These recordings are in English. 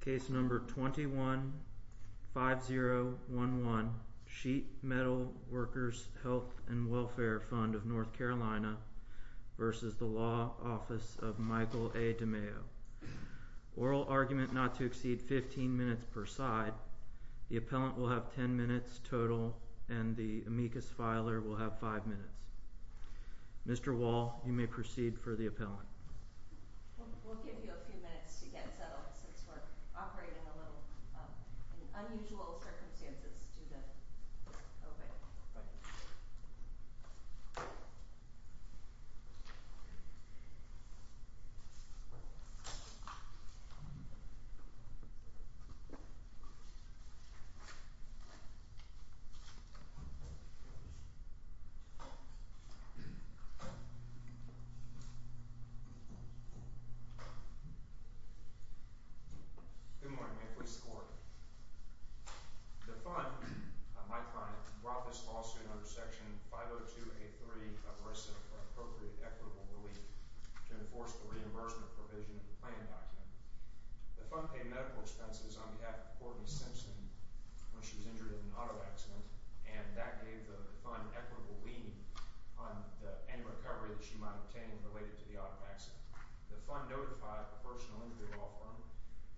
Case number 21-5011 Sheet Metal Workers Health and Welfare Fund of North Carolina v. The Law Office of Michael A Demayo. Oral argument not to exceed 15 minutes per side. The appellant will have 10 minutes total and the amicus filer will have five minutes. Mr. Wall, you may proceed for the appellant. Good morning. May it please the court. The fund, my client, brought this lawsuit under section 502A3 of RISA for appropriate equitable relief to enforce the reimbursement provision of the plan document. The fund paid medical expenses on behalf of Courtney Simpson when she was injured in an auto accident and that gave the fund equitable lien on any recovery that she might obtain related to the auto accident. The fund notified the personal injury law firm,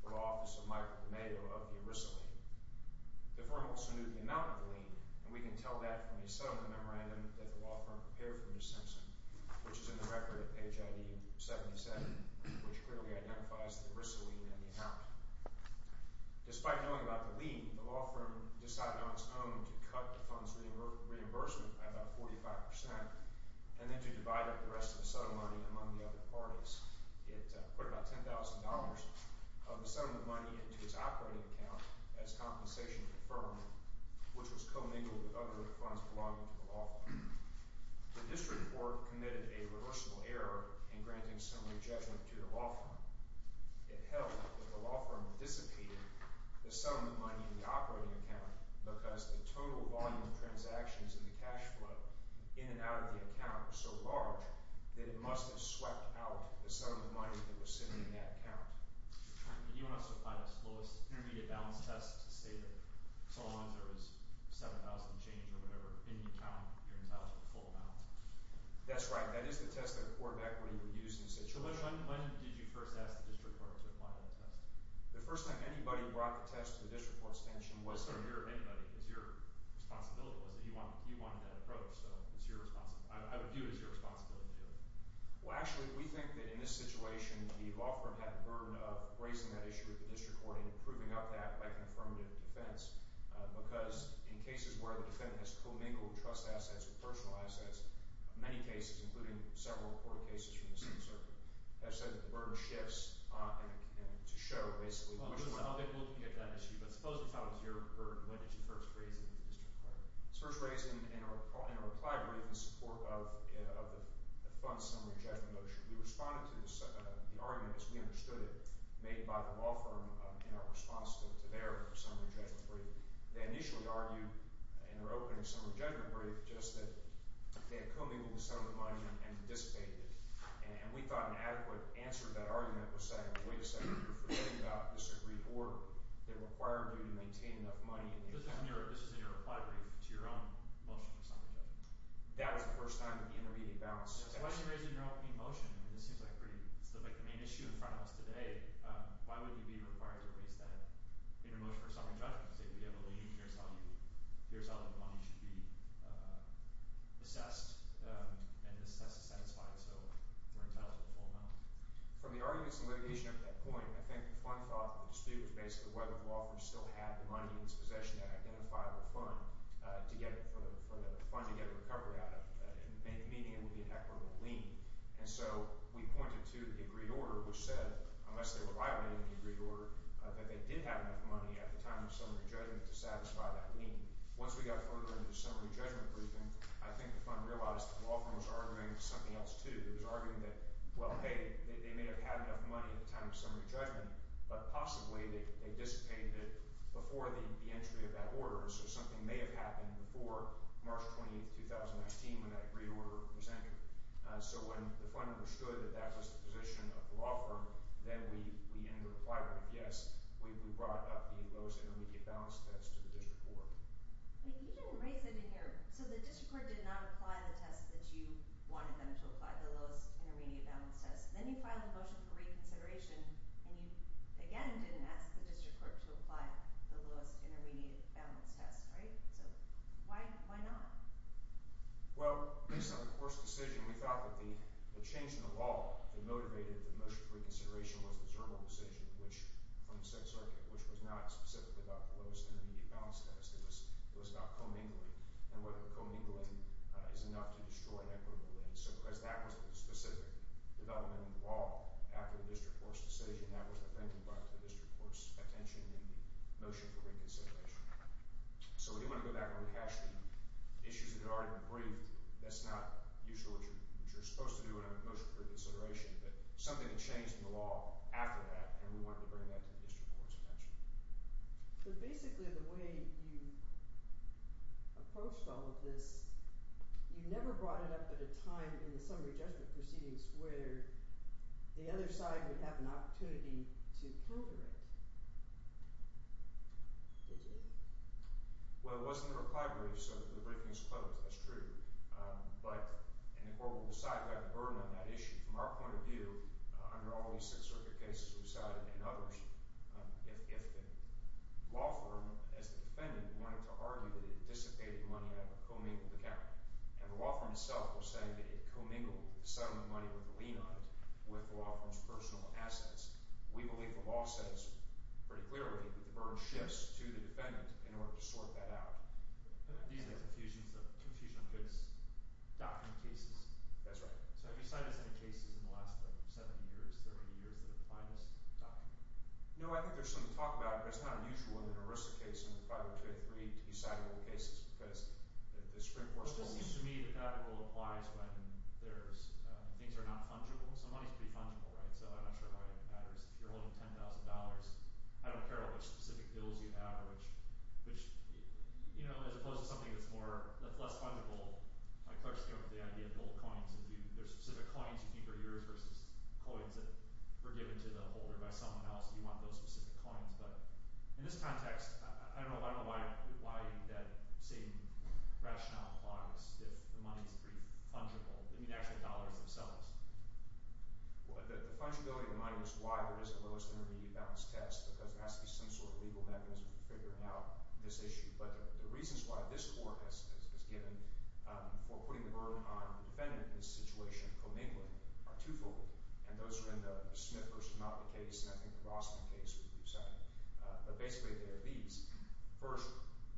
the Law Office of Michael A Demayo, of the RISA lien. The firm also knew the amount of the lien and we can tell that from a settlement memorandum that the law firm prepared for Ms. Simpson, which is in the record at page ID 77, which clearly identifies the RISA lien in the account. Despite knowing about the lien, the law firm decided on its own to cut the fund's reimbursement by about 45% and then to divide up the rest of the settlement money among the other parties. It put about $10,000 of the settlement money into its operating account as compensation for the firm, which was commingled with other funds belonging to the law firm. The district court committed a reversible error in granting similar judgment to the law firm. It held that the law firm dissipated the settlement money in the operating account because the total volume of transactions in the cash flow in and out of the account was so large that it must have swept out the settlement money that was sitting in that account. Do you want to supply the slowest intermediate balance test to say that so long as there is $7,000 change or whatever in the account, you're entitled to the full amount? That's right. That is the test that a court of equity would use in such a situation. So when did you first ask the district court to apply that test? The first time anybody brought the test to the district court's attention was... Was there a mirror of anybody? Is your responsibility was that you wanted that approach? I would view it as your responsibility to do that. Well, actually, we think that in this situation, the law firm had the burden of raising that issue with the district court and improving up that by confirmative defense because in that way, the defendant has co-mingled trust assets with personal assets in many cases, including several court cases from the same circuit. I've said that the burden shifts to show basically... Well, we'll get to that issue, but suppose it's not your burden. When did you first raise it with the district court? It was first raised in a reply brief in support of the fund's summary judgment motion. We responded to the argument as we understood it made by the law firm in our response to their summary judgment brief. They initially argued in their opening summary judgment brief just that they had co-mingled with some of the money and dissipated it, and we thought an adequate answer to that argument was saying, wait a second, you're forgetting about this agreed order that required you to maintain enough money. This was in your reply brief to your own motion for summary judgment? That was the first time that the intermediate balance... So why was it raised in your opening motion? I mean, this seems like the main issue in front of us today. Why would you be required to raise that in your motion for summary judgment to say, we have a lien, here's how the money should be assessed, and this test is satisfied, so we're entitled to the full amount? From the arguments and litigation at that point, I think the fund thought the dispute was basically whether the law firm still had the money in its possession to identify the fund for the fund to get a recovery out of, meaning it would be an equitable lien. And so we pointed to the agreed order, which said, unless they were violating the agreed order, that they did have enough money at the time of summary judgment to satisfy that lien. Once we got further into the summary judgment briefing, I think the fund realized the law firm was arguing something else, too. It was arguing that, well, hey, they may have had enough money at the time of summary judgment, but possibly they dissipated it before the entry of that order, so something may have happened before March 20, 2019, when that agreed order was entered. So when the fund understood that that was the position of the law firm, then we ended up applying it. Yes, we brought up the lowest intermediate balance test to the district court. You didn't raise it in here. So the district court did not apply the test that you wanted them to apply, the lowest intermediate balance test. Then you filed a motion for reconsideration, and you, again, didn't ask the district court to apply the lowest intermediate balance test, right? So why not? Well, based on the court's decision, we felt that the change in the law that motivated the motion for reconsideration was the Zerbo decision from the Second Circuit, which was not specifically about the lowest intermediate balance test. It was about commingling and whether the commingling is enough to destroy an equitable lien. So because that was a specific development in the law after the district court's decision, that was offended by the district court's attention in the motion for reconsideration. So we didn't want to go back and recast the issues that had already been briefed. That's not usually what you're supposed to do in a motion for reconsideration. But something had changed in the law after that, and we wanted to bring that to the district court's attention. But basically, the way you approached all of this, you never brought it up at a time in the summary judgment proceedings where the other side would have an opportunity to counter it. Go ahead, sir. Well, it was in the reply brief, so the briefing's closed. That's true. But, and the court will decide about the burden on that issue. From our point of view, under all these Sixth Circuit cases we've cited and others, if the law firm, as the defendant, wanted to argue that it dissipated money out of a commingled account, and the law firm itself was saying that it commingled the settlement money with a lien on it with the law firm's personal assets. We believe the law says pretty clearly that the burden shifts to the defendant in order to sort that out. These are Confusion of Goods document cases. That's right. So have you cited any cases in the last, like, 70 years, 30 years, that apply to this document? No, I think there's some talk about it, but it's not unusual in an ERISA case and the 502A3 to be citable cases, because the Supreme Court's rules... It just seems to me that that rule applies when there's, things are not fungible. So money's pretty fungible, right? So I'm not sure why it matters. If you're holding $10,000, I don't care what specific bills you have, which, you know, as opposed to something that's more, less fungible, like Clark's theory of the idea of gold coins. If there's specific coins you keep that are yours versus coins that were given to the holder by someone else, you want those specific coins. But in this context, I don't know why that same rationale applies if the money's pretty fungible. I mean, actually, dollars themselves. The fungibility of money is why there is the lowest intermediate balance test, because there has to be some sort of legal mechanism for figuring out this issue. But the reasons why this Court has given for putting the burden on the defendant in this situation of commingling are twofold, and those are in the Smith v. Malton case, and I think the Boston case would be second. But basically, they are these. First,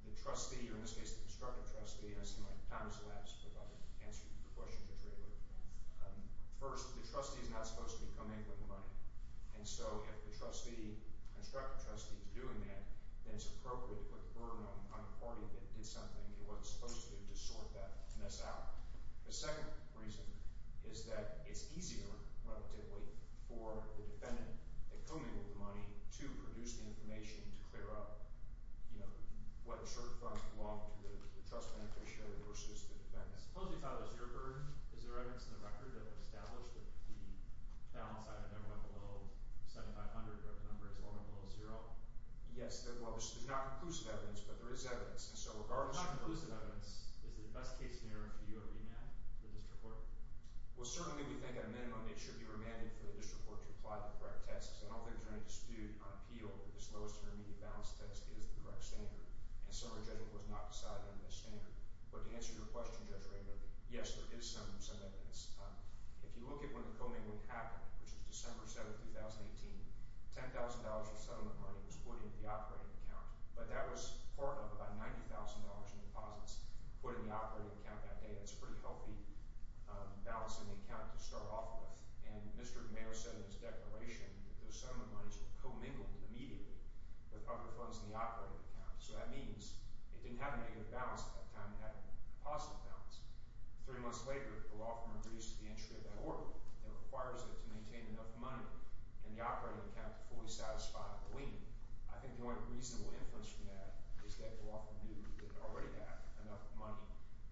the trustee, or in this case, the constructive trustee, and I seem like time has elapsed, but I'll answer the question just really quickly. First, the trustee is not supposed to be commingling with money. And so if the trustee, constructive trustee, is doing that, then it's appropriate to put the burden on the party that did something it wasn't supposed to do to sort that mess out. The second reason is that it's easier, relatively, for the defendant that commingled with money to produce the information to clear up, you know, whether certain funds belong to the trust beneficiary versus the defendant. Suppose you thought it was your burden. Is there evidence in the record that would establish that the balance item number went below 7,500 or the number is lower below zero? Yes, there's not conclusive evidence, but there is evidence. And so regardless of... If it's not conclusive evidence, is it best case scenario for you to remand the district court? Well, certainly we think at a minimum it should be remanded for the district court to apply the correct tests. I don't think there's any dispute on appeal that this lowest intermediate balance test is the correct standard. And so our judgment was not decided on that standard. But to answer your question, Judge Rayburn, yes, there is some evidence. If you look at when the commingling happened, which was December 7, 2018, $10,000 of settlement money was put into the operating account. But that was part of about $90,000 in deposits put in the operating account that day. That's a pretty healthy balance in the account to start off with. And Mr. Mayer said in his declaration that those settlement monies were commingled immediately with other funds in the operating account. So that means it didn't have a negative balance at that time. It had a positive balance. Three months later, the law firm introduces the entry of that order that requires it to maintain enough money in the operating account to fully satisfy the lien. I think the only reasonable influence from that is that the law firm knew that it already had enough money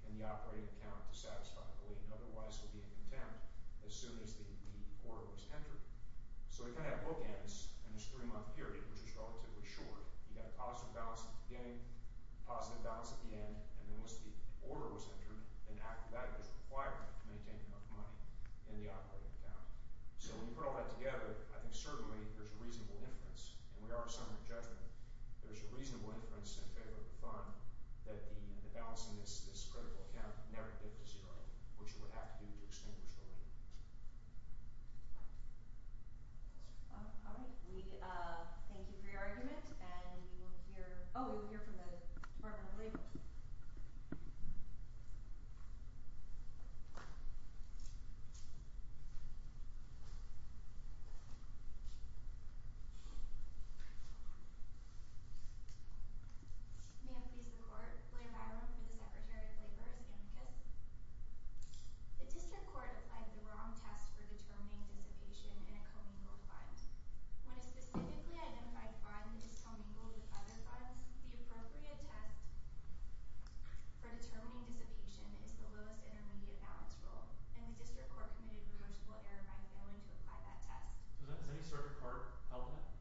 in the operating account to satisfy the lien. Otherwise, there would be a contempt as soon as the order was entered. So we kind of have bookends in this three-month period, which is relatively short. You have a positive balance at the beginning, a positive balance at the end, and then once the order was entered, then that was required to maintain enough money in the operating account. So when you put all that together, I think certainly there's a reasonable inference. And we are a summary of judgment. There's a reasonable inference in favor of the fund that the balance in this critical account never dipped to zero, which it would have to do to extinguish the lien. All right. We thank you for your argument. And we will hear – oh, we will hear from the Department of Labor. May it please the Court, William Byron for the Secretary of Labor's Inquis. The district court applied the wrong test for determining dissipation in a commingled fund. When a specifically identified fund is commingled with other funds, the appropriate test for determining dissipation is the lowest intermediate balance rule. And the district court committed reversible error by failing to apply that test. Does any circuit court help with that?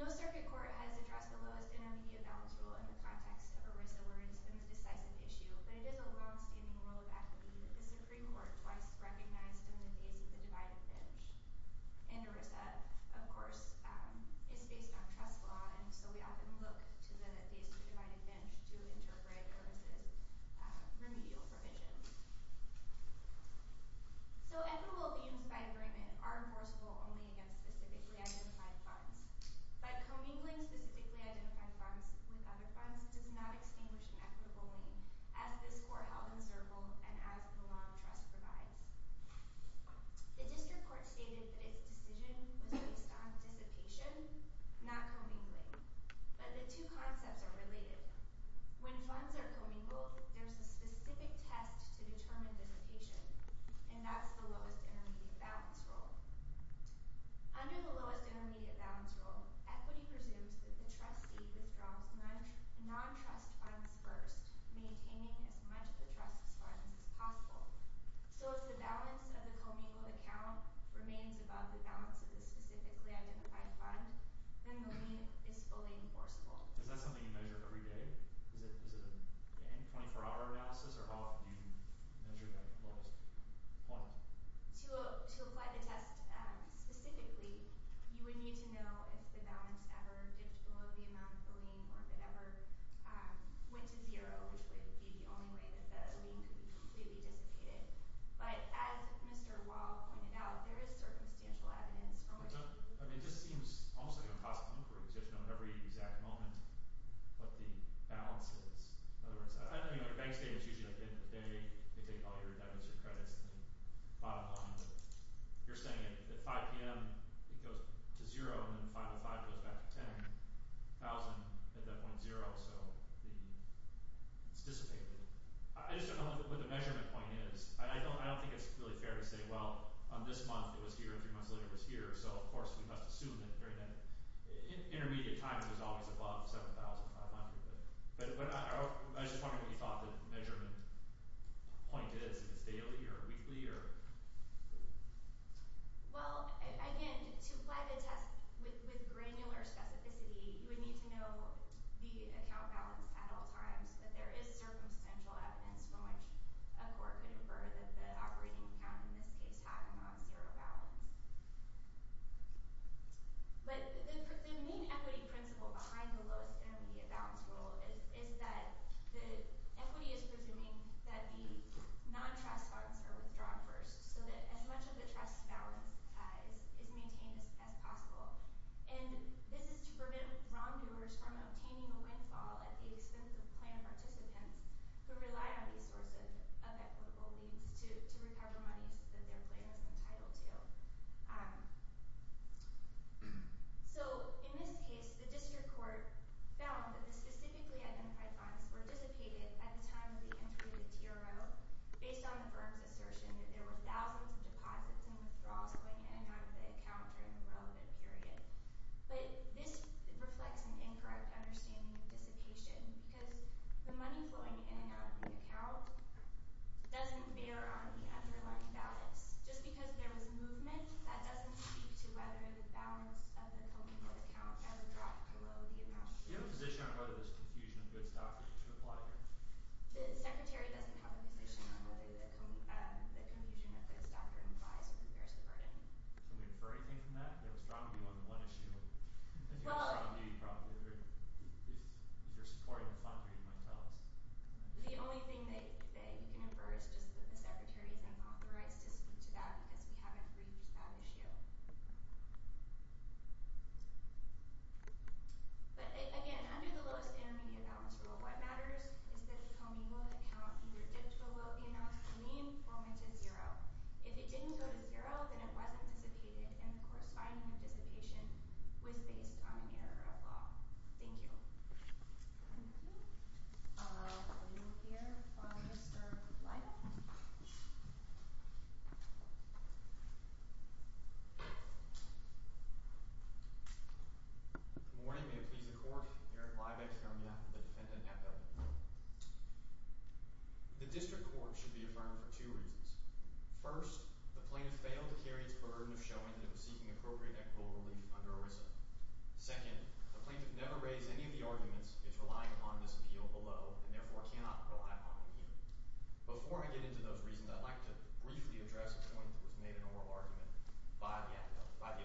No circuit court has addressed the lowest intermediate balance rule in the context of ERISA where it's been a decisive issue. But it is a longstanding rule of equity that the Supreme Court twice recognized in the case of the divided bench. And ERISA, of course, is based on trust law, and so we often look to the case of the divided bench to interpret ERISA's remedial provision. So equitable liens by agreement are enforceable only against specifically identified funds. But commingling specifically identified funds with other funds does not extinguish an equitable lien, as this Court held in Zirkle and as the law of trust provides. The district court stated that its decision was based on dissipation, not commingling. But the two concepts are related. When funds are commingled, there's a specific test to determine dissipation, and that's the lowest intermediate balance rule. Under the lowest intermediate balance rule, equity presumes that the trustee withdraws non-trust funds first, maintaining as much of the trust's funds as possible. So if the balance of the commingled account remains above the balance of the specifically identified fund, then the lien is fully enforceable. Is that something you measure every day? Is it a 24-hour analysis, or how often do you measure that lowest point? Well, to apply the test specifically, you would need to know if the balance ever dipped below the amount of the lien or if it ever went to zero, which would be the only way that the lien could be completely dissipated. But as Mr. Wahl pointed out, there is circumstantial evidence from which people could— I mean, it just seems almost like an impossible inquiry because you have to know every exact moment what the balance is. In other words, I know your bank statements usually at the end of the day, they take all your debits or credits and the bottom line, but you're saying at 5 p.m. it goes to zero and then 5 to 5 goes back to 10,000 at that point zero, so it's dissipated. I just don't know what the measurement point is, and I don't think it's really fair to say, well, this month it was here and three months later it was here, so of course we must assume that during that intermediate time it was always above 7,500. But I was just wondering what you thought the measurement point is. Is it daily or weekly or…? Well, again, to apply the test with granular specificity, you would need to know the account balance at all times, but there is circumstantial evidence from which a court could infer that the operating account in this case happened on zero balance. But the main equity principle behind the lowest intermediate balance rule is that the equity is presuming that the non-trust funds are withdrawn first, so that as much of the trust balance is maintained as possible. And this is to prevent wrongdoers from obtaining a windfall at the expense of plan participants who rely on these sources of equitable means to recover monies that their plan is entitled to. So in this case, the district court found that the specifically identified funds were dissipated at the time of the entry of the TRO based on the firm's assertion that there were thousands of deposits and withdrawals going in and out of the account during the relevant period. But this reflects an incorrect understanding of dissipation because the money flowing in and out of the account doesn't bear on the underlying balance. Just because there was movement, that doesn't speak to whether the balance of the cumulative account ever dropped below the amount. Do you have a position on whether there's confusion of goods doctrine to apply here? The secretary doesn't have a position on whether the confusion of goods doctrine applies or compares to burden. Can we infer anything from that? There was probably more than one issue. If you're supporting the fund, you might tell us. The only thing that you can infer is just that the secretary isn't authorized to speak to that because we haven't briefed that issue. But again, under the lowest intermediate balance rule, what matters is that the cumulative account either dipped below the amount to mean or went to zero. If it didn't go to zero, then it wasn't dissipated. And the corresponding dissipation was based on an error of law. Thank you. Good morning. May it please the court. Eric Leibach here on behalf of the defendant, Epel. The district court should be affirmed for two reasons. First, the plaintiff failed to carry its burden of showing that it was seeking appropriate equitable relief under ERISA. Second, the plaintiff never raised any of the arguments it's relying upon in this appeal below and therefore cannot rely upon in here. Before I get into those reasons, I'd like to briefly address a point that was made in oral argument by the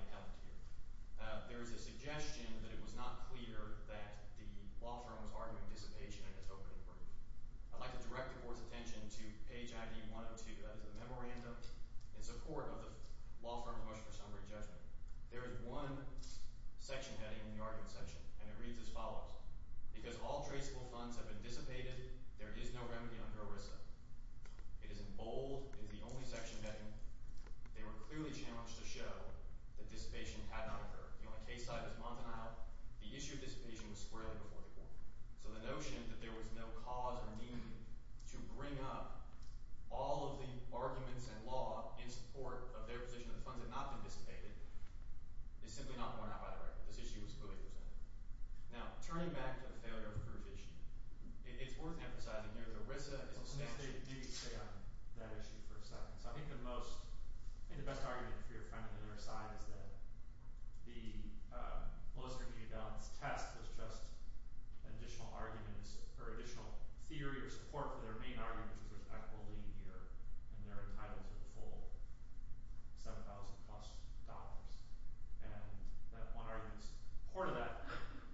appellant here. There is a suggestion that it was not clear that the law firm was arguing dissipation in its opening brief. I'd like to direct the court's attention to page ID 102. That is a memorandum in support of the law firm's motion for summary judgment. There is one section heading in the argument section, and it reads as follows. Because all traceable funds have been dissipated, there is no remedy under ERISA. It is in bold. It is the only section heading. They were clearly challenged to show that dissipation had not occurred. The only case side is Montanale. The issue of dissipation was squarely before the court. So the notion that there was no cause or meaning to bring up all of the arguments in law in support of their position that the funds had not been dissipated is simply not borne out by the record. This issue was clearly presented. Now, turning back to the failure of the first issue, it's worth emphasizing here that ERISA is a sanction. Let me stay on that issue for a second. So I think the most – I think the best argument for your friend on the other side is that the lowest-intermediate-balance test was just additional arguments or additional theory or support for their main argument, which is there's equity here, and they're entitled to the full $7,000-plus. And that one argument is part of that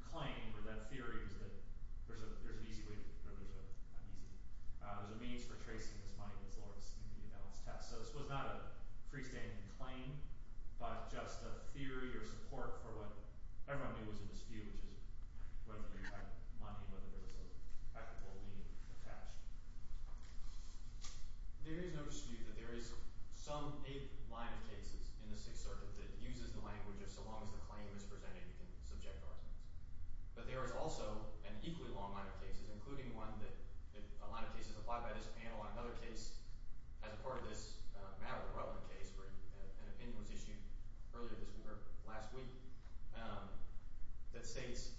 claim or that theory was that there's an easy way to – there's a means for tracing this money that's lower than the intermediate-balance test. So this was not a freestanding claim, but just a theory or support for what everyone knew was a dispute, which is whether they had money, whether there was a practical meaning attached. There is no dispute that there is some eight line of cases in the Sixth Circuit that uses the language of so long as the claim is presented, you can subject arguments. But there is also an equally long line of cases, including one that – a line of cases applied by this panel on another case as a part of this matter-of-relevant case where an opinion was issued earlier this week or last week that states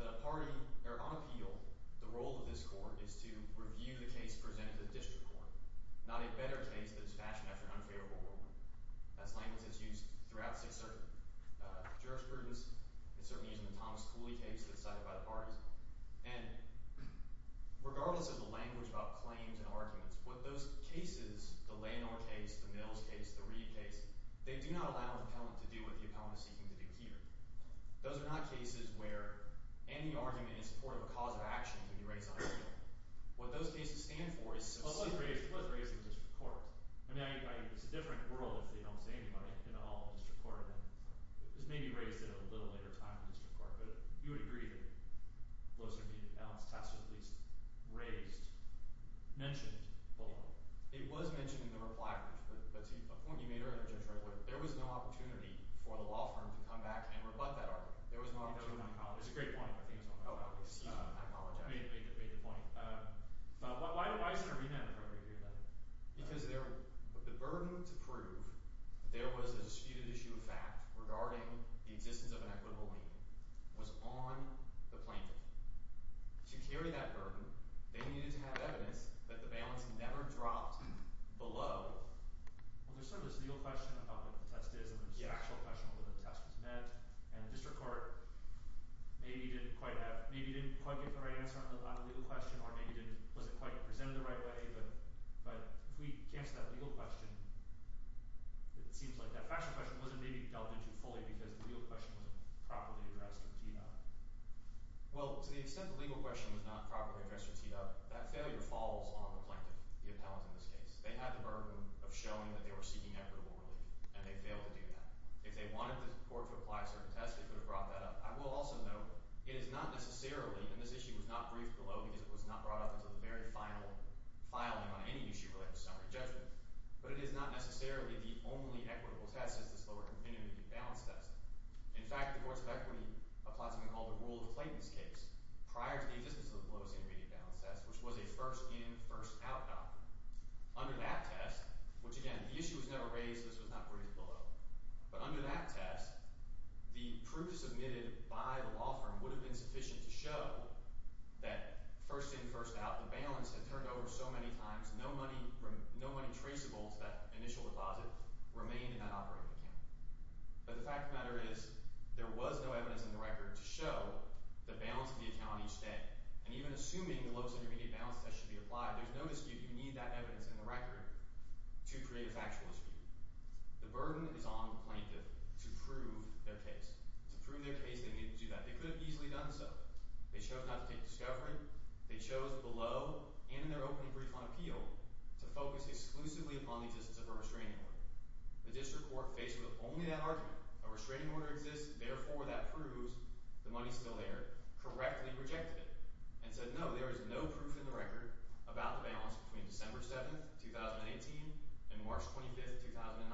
that a party – or on appeal, the role of this court is to review the case presented to the district court, not a better case that is fashioned after an unfavorable rule. That's language that's used throughout the Sixth Circuit. Jurisprudence is certainly used in the Thomas Cooley case that's cited by the parties. And regardless of the language about claims and arguments, what those cases – the Leonore case, the Mills case, the Reid case – they do not allow the appellant to do what the appellant is seeking to do here. Those are not cases where any argument in support of a cause of action can be raised on appeal. What those cases stand for is – It was raised in district court. I mean, it's a different world if they don't say anybody at all in district court. It was maybe raised at a little later time in district court, but you would agree that Bloser v. Allen's test at least raised – mentioned the law. It was mentioned in the reply brief, but to a point you made earlier, Judge Redwood, there was no opportunity for the law firm to come back and rebut that argument. There was no opportunity. It was a great point. I think it was a great point. Oh, I see. I apologize. You made the point. Why is there a remand appropriate here then? Because the burden to prove there was a disputed issue of fact regarding the existence of an equitable lien was on the plaintiff. To carry that burden, they needed to have evidence that the balance never dropped below – Well, there's sort of this legal question about what the test is and there's the actual question of whether the test was met, and district court maybe didn't quite have – maybe didn't quite get the right answer on the legal question or maybe didn't – wasn't quite presented the right way, but if we cast that legal question, it seems like that factual question wasn't maybe delved into fully because the legal question wasn't properly addressed or teed up. Well, to the extent the legal question was not properly addressed or teed up, that failure falls on the plaintiff, the appellant in this case. They had the burden of showing that they were seeking equitable relief, and they failed to do that. If they wanted the court to apply a certain test, they could have brought that up. I will also note it is not necessarily – and this issue was not briefed below because it was not brought up until the very final filing on any issue related to summary judgment, but it is not necessarily the only equitable test, it's this lower-intermediate balance test. In fact, the courts of equity apply something called the rule of Clayton's case prior to the existence of the lowest-intermediate balance test, which was a first-in, first-out document. Under that test, which again, the issue was never raised, so this was not briefed below, but under that test, the proof submitted by the law firm would have been sufficient to show that first-in, first-out, the balance had turned over so many times, no money traceable to that initial deposit remained in that operating account. But the fact of the matter is, there was no evidence in the record to show the balance of the account each day, and even assuming the lowest-intermediate balance test should be applied, there's no dispute you need that evidence in the record to create a factual dispute. The burden is on the plaintiff to prove their case. To prove their case, they needed to do that. They could have easily done so. They chose not to take discovery. They chose below, and in their open brief on appeal, to focus exclusively upon the existence of a restraining order. The district court, faced with only that argument, a restraining order exists, therefore that proves the money's still there, correctly rejected it, and said no, there is no proof in the record about the balance between December 7th, 2018, and March 25th, 2019.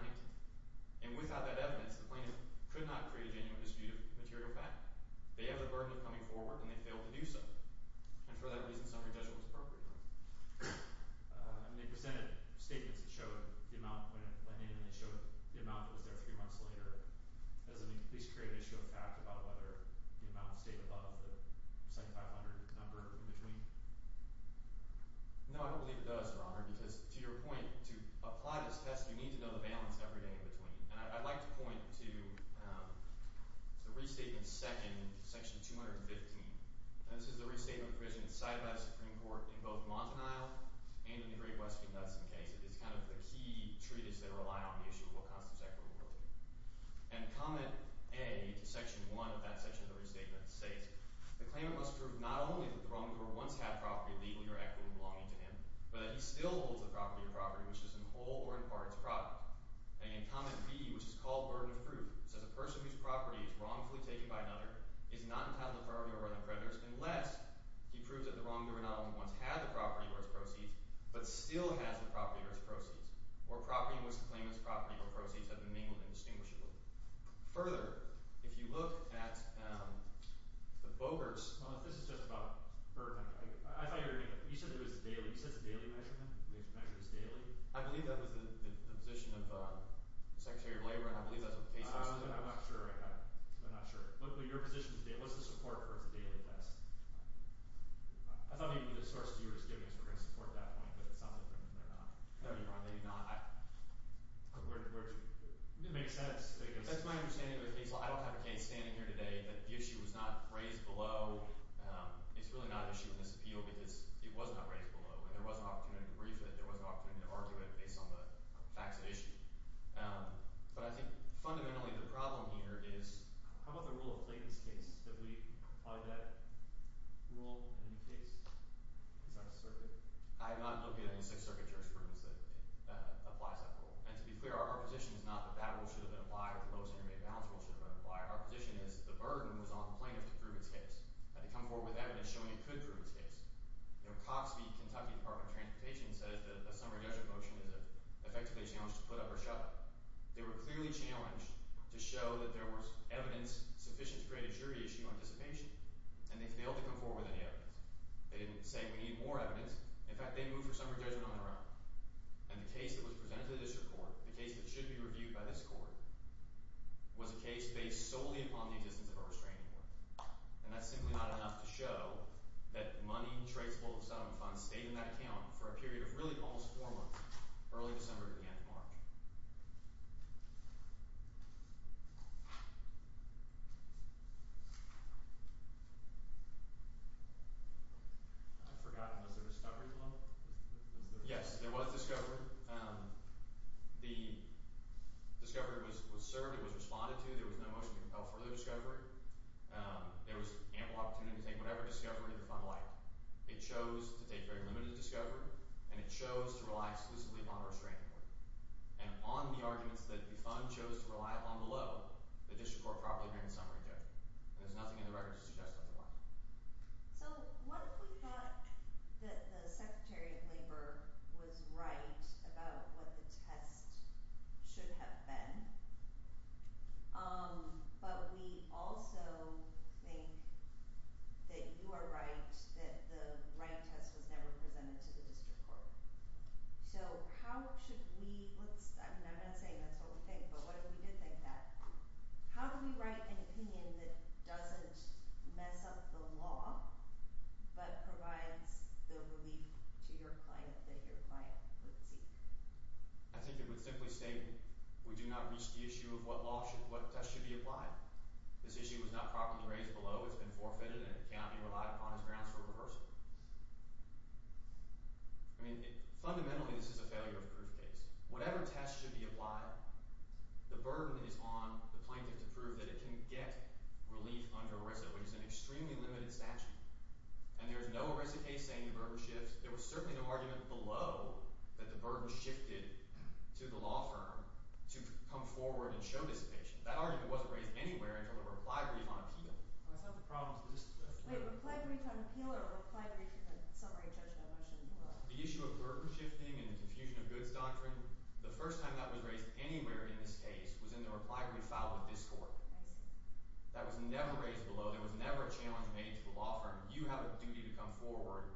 And without that evidence, the plaintiff could not create a genuine dispute of material fact. They have the burden of coming forward, and they failed to do so. And for that reason, summary judgment was appropriate. I mean, they presented statements that showed the amount when it went in, and they showed the amount that was there three months later. Doesn't this create an issue of fact about whether the amount stayed above the 7500 number in between? No, I don't believe it does, Your Honor, because to your point, to apply this test, you need to know the balance every day in between. And I'd like to point to the restatement second, section 215. And this is the restatement provision cited by the Supreme Court in both Montanile and in the Great Western Dudson case. It is kind of the key treatise that rely on the issue of what constitutes equitable royalty. And comment A to section 1 of that section of the restatement states, the claimant must prove not only that the Roman court once had property legally or equitably belonging to him, but that he still holds the property or property which is in whole or in parts property. And again, comment B, which is called burden of proof, says a person whose property is wrongfully taken by another is not entitled to property or other creditors unless he proves that the wrongdoer not only once had the property or its proceeds, but still has the property or its proceeds, or property in which the claimant's property or proceeds have been mingled indistinguishably. Further, if you look at the Bogart's… Well, if this is just about… I thought you were going to… You said there was a daily… You said it's a daily measurement? Measurements daily? I believe that was the position of the Secretary of Labor, and I believe that's what the case was. I'm not sure. I'm not sure. What's your position today? What's the support for the daily test? I thought maybe the source you were just giving us were going to support that point, but it sounds like they're not. No, you're wrong. They do not. Where did you… It didn't make sense. That's my understanding of the case. I don't have a case standing here today that the issue was not raised below. It's really not an issue in this appeal because it was not raised below. And there was an opportunity to brief it. There was an opportunity to argue it based on the facts of the issue. But I think fundamentally the problem here is… How about the rule of blatant case? Did we apply that rule in any case? It's not a circuit. I have not looked at any Sixth Circuit jurisprudence that applies that rule. And to be clear, our position is not that that rule should have been applied or the lowest intermediate balance rule should have been applied. Our position is the burden was on the plaintiff to prove its case. And to come forward with evidence showing it could prove its case. You know, Cox v. Kentucky Department of Transportation says that a summary judgment motion is effectively a challenge to put up or shut up. They were clearly challenged to show that there was evidence sufficient to create a jury issue on dissipation, and they failed to come forward with any evidence. They didn't say we need more evidence. In fact, they moved for summary judgment on their own. And the case that was presented to the district court, the case that should be reviewed by this court, was a case based solely upon the existence of a restraining order. And that's simply not enough to show that money traceable to the settlement fund stayed in that account for a period of really almost four months, early December to the end of March. I forgot, was there a discovery below? Yes, there was discovery. The discovery was served, it was responded to, there was no motion to compel further discovery. There was ample opportunity to take whatever discovery the fund liked. It chose to take very limited discovery, and it chose to rely exclusively upon a restraining order. And on the arguments that the fund chose to rely upon below, the district court properly made a summary judgment. And there's nothing in the record to suggest otherwise. So what if we thought that the Secretary of Labor was right about what the test should have been, but we also think that you are right that the right test was never presented to the district court. So how should we, I'm not saying that's what we think, but what if we did think that? How do we write an opinion that doesn't mess up the law, but provides the relief to your client that your client would seek? I think it would simply state we do not reach the issue of what law should, what test should be applied. This issue was not properly raised below, it's been forfeited, and it cannot be relied upon as grounds for reversal. I mean, fundamentally this is a failure of proof case. Whatever test should be applied, the burden is on the plaintiff to prove that it can get relief under ERISA, which is an extremely limited statute. And there's no ERISA case saying the burden shifts. There was certainly no argument below that the burden shifted to the law firm to come forward and show dissipation. That argument wasn't raised anywhere until the reply brief on appeal. I always have the problem with this. Wait, reply brief on appeal or reply brief in summary judgment motion? The issue of burden shifting and the confusion of goods doctrine, the first time that was raised anywhere in this case was in the reply brief filed with this court. I see. That was never raised below, there was never a challenge made to the law firm. You have a duty to come forward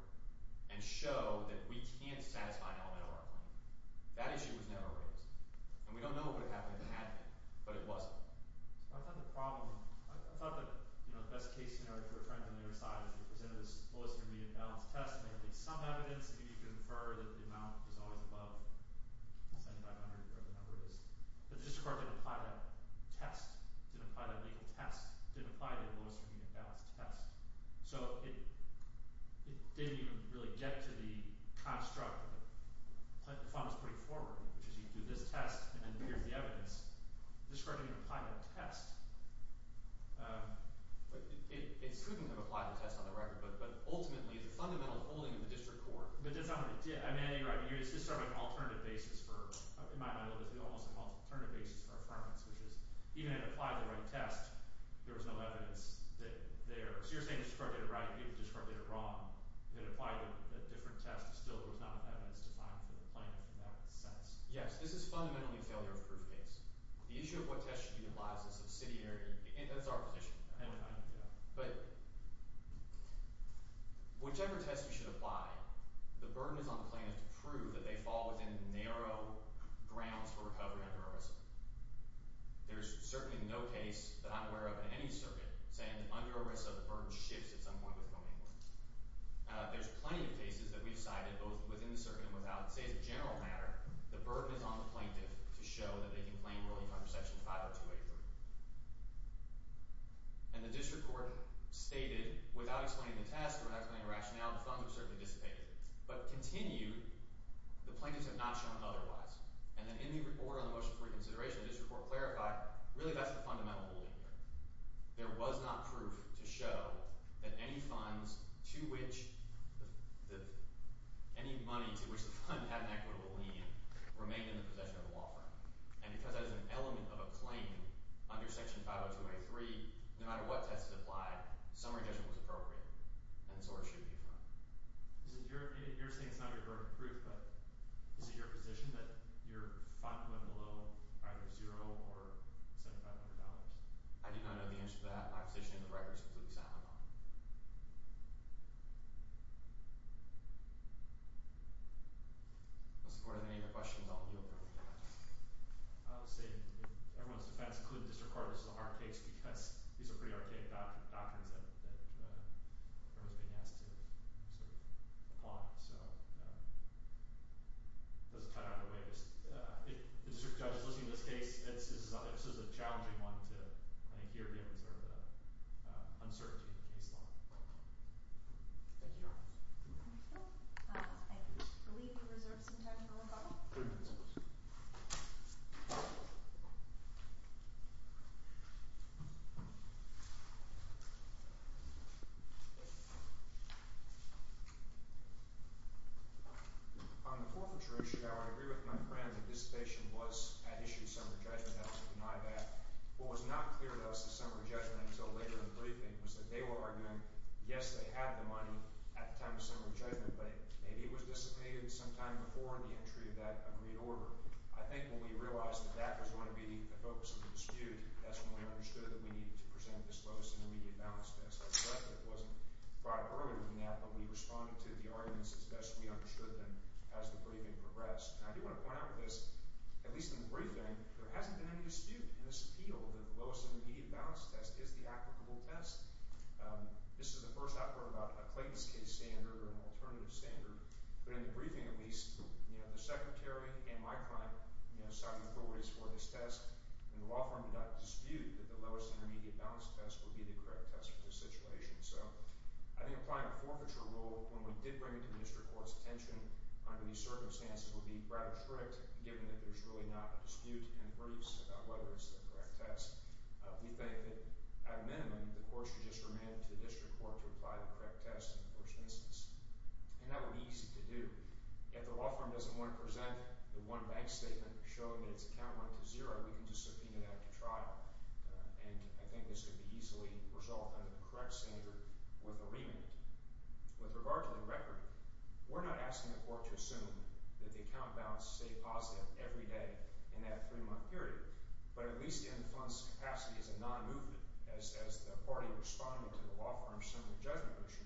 and show that we can't satisfy an element of our claim. That issue was never raised. And we don't know what would have happened if it had been, but it wasn't. I thought the problem, I thought that, you know, the best case scenario for a trident on the other side, if you presented this lowest remedial balance test, there may be some evidence that you could infer that the amount was always above 75 hundred, whatever the number is. But the district court didn't apply that test, didn't apply that legal test, didn't apply the lowest remedial balance test. So it didn't even really get to the construct that the fund was putting forward, which is you do this test and then here's the evidence. This court didn't even apply that test. But it shouldn't have applied the test on the record, but ultimately, it's a fundamental holding of the district court. But that's not what it did. I mean, you're right. It's just sort of an alternative basis for, in my mind, it's almost an alternative basis for affirmance, which is even if it applied the right test, there was no evidence that there, so you're saying the district court did it right and the district court did it wrong. If it applied a different test, still there was not enough evidence to find for the plaintiff in that sense. Yes, this is fundamentally a failure of proof case. The issue of what test should be applied is a subsidiary, and that's our position. But whichever test you should apply, the burden is on the plaintiff to prove that they fall within narrow grounds for recovery under arrest. There's certainly no case that I'm aware of in any circuit saying that under arrest a burden shifts at some point with going away. There's plenty of cases that we've cited both within the circuit and without. Say, as a general matter, the burden is on the plaintiff to show that they can claim relief under Section 50283. And the district court stated, without explaining the test or without explaining the rationale, the funds are certainly dissipated. But continued, the plaintiffs have not shown otherwise. And then in the report on the motion for reconsideration, the district court clarified really that's the fundamental holding here. There was not proof to show that any funds to which any money to which the fund had an equitable lien remained in the possession of the law firm. And because that is an element of a claim under Section 50283, no matter what test is applied, summary judgment was appropriate, and so it should be fine. You're saying it's not your burden of proof, but is it your position that your fund went below either zero or $7,500? I do not know the answer to that. My position in the record is completely silent on it. Mr. Gordon, any other questions I'll yield to? I'll say everyone's defense, including the district court, this is a hard case because these are pretty archaic doctrines that are being asked to apply, so it doesn't cut out in a way. If the district judge is listening to this case, this is a challenging one to hear the uncertainty of the case law. Thank you, Your Honor. Thank you. I believe we reserve some time for one more question. On the forfeiture issue, Your Honor, I agree with my friend that dissipation was at issue in summary judgment. I also deny that. What was not clear to us in summary judgment until later in the briefing was that they were arguing, yes, they had the money at the time of summary judgment, but maybe it was dissipated sometime before the entry of that agreed order. I think when we realized that that was going to be the focus of the dispute, that's when we understood that we needed to present this lowest intermediate balance test. I regret that it wasn't brought up earlier than that, but we responded to the arguments as best we understood them as the briefing progressed. And I do want to point out with this, at least in the briefing, there hasn't been any dispute in this appeal that the lowest intermediate balance test is the applicable test. This is the first I've heard about a Clayton's case standard or an alternative standard, but in the briefing at least, you know, the Secretary and my client, you know, signed authorities for this test, and the law firm did not dispute that the lowest intermediate balance test would be the correct test for this situation. So I think applying a forfeiture rule when we did bring it to the district court's attention under these circumstances would be rather strict, given that there's really not a dispute in the briefs about whether it's the correct test. We think that at a minimum, the court should just remand it to the district court to apply the correct test in the first instance. And that would be easy to do. If the law firm doesn't want to present the one bank statement showing that its account went to zero, we can just subpoena that to trial. And I think this could be easily resolved under the correct standard with a remand. With regard to the record, we're not asking the court to assume that the account balance stayed positive every day in that three-month period. But at least in the fund's capacity as a non-movement, as the party responding to the law firm's similar judgment motion,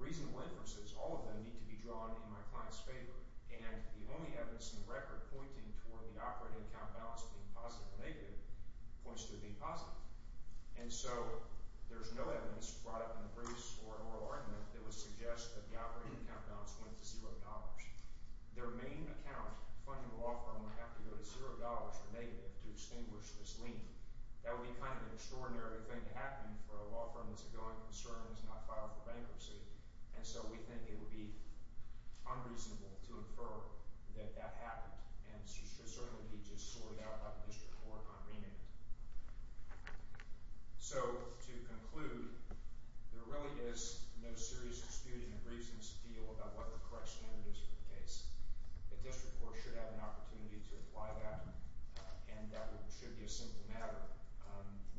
reasonable inferences, all of them need to be drawn in my client's favor. And the only evidence in the record pointing toward the operating account balance being positive or negative points to it being positive. And so there's no evidence brought up in the briefs or an oral argument that would suggest that the operating account balance went to zero dollars. Their main account funding law firm would have to go to zero dollars or negative to extinguish this lien. That would be kind of an extraordinary thing to happen for a law firm that's a going concern and has not filed for bankruptcy. And so we think it would be unreasonable to infer that that happened. And it should certainly be just sorted out by the district court on remand. So, to conclude, there really is no serious dispute in the briefs' appeal about what the correct standard is for the case. The district court should have an opportunity to apply that, and that should be a simple matter.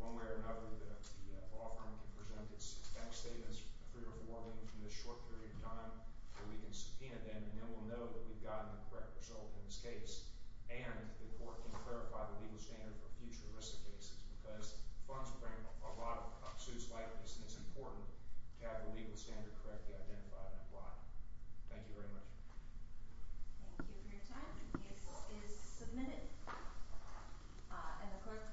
One way or another, the law firm can present its back statements, free reforming, in this short period of time. And we can subpoena them, and then we'll know that we've gotten the correct result in this case. And the court can clarify the legal standard for future risk cases, because funds bring a lot of suits like this, and it's important to have the legal standard correctly identified and applied. Thank you very much. Thank you for your time. The case is submitted. And the court may be adjourned.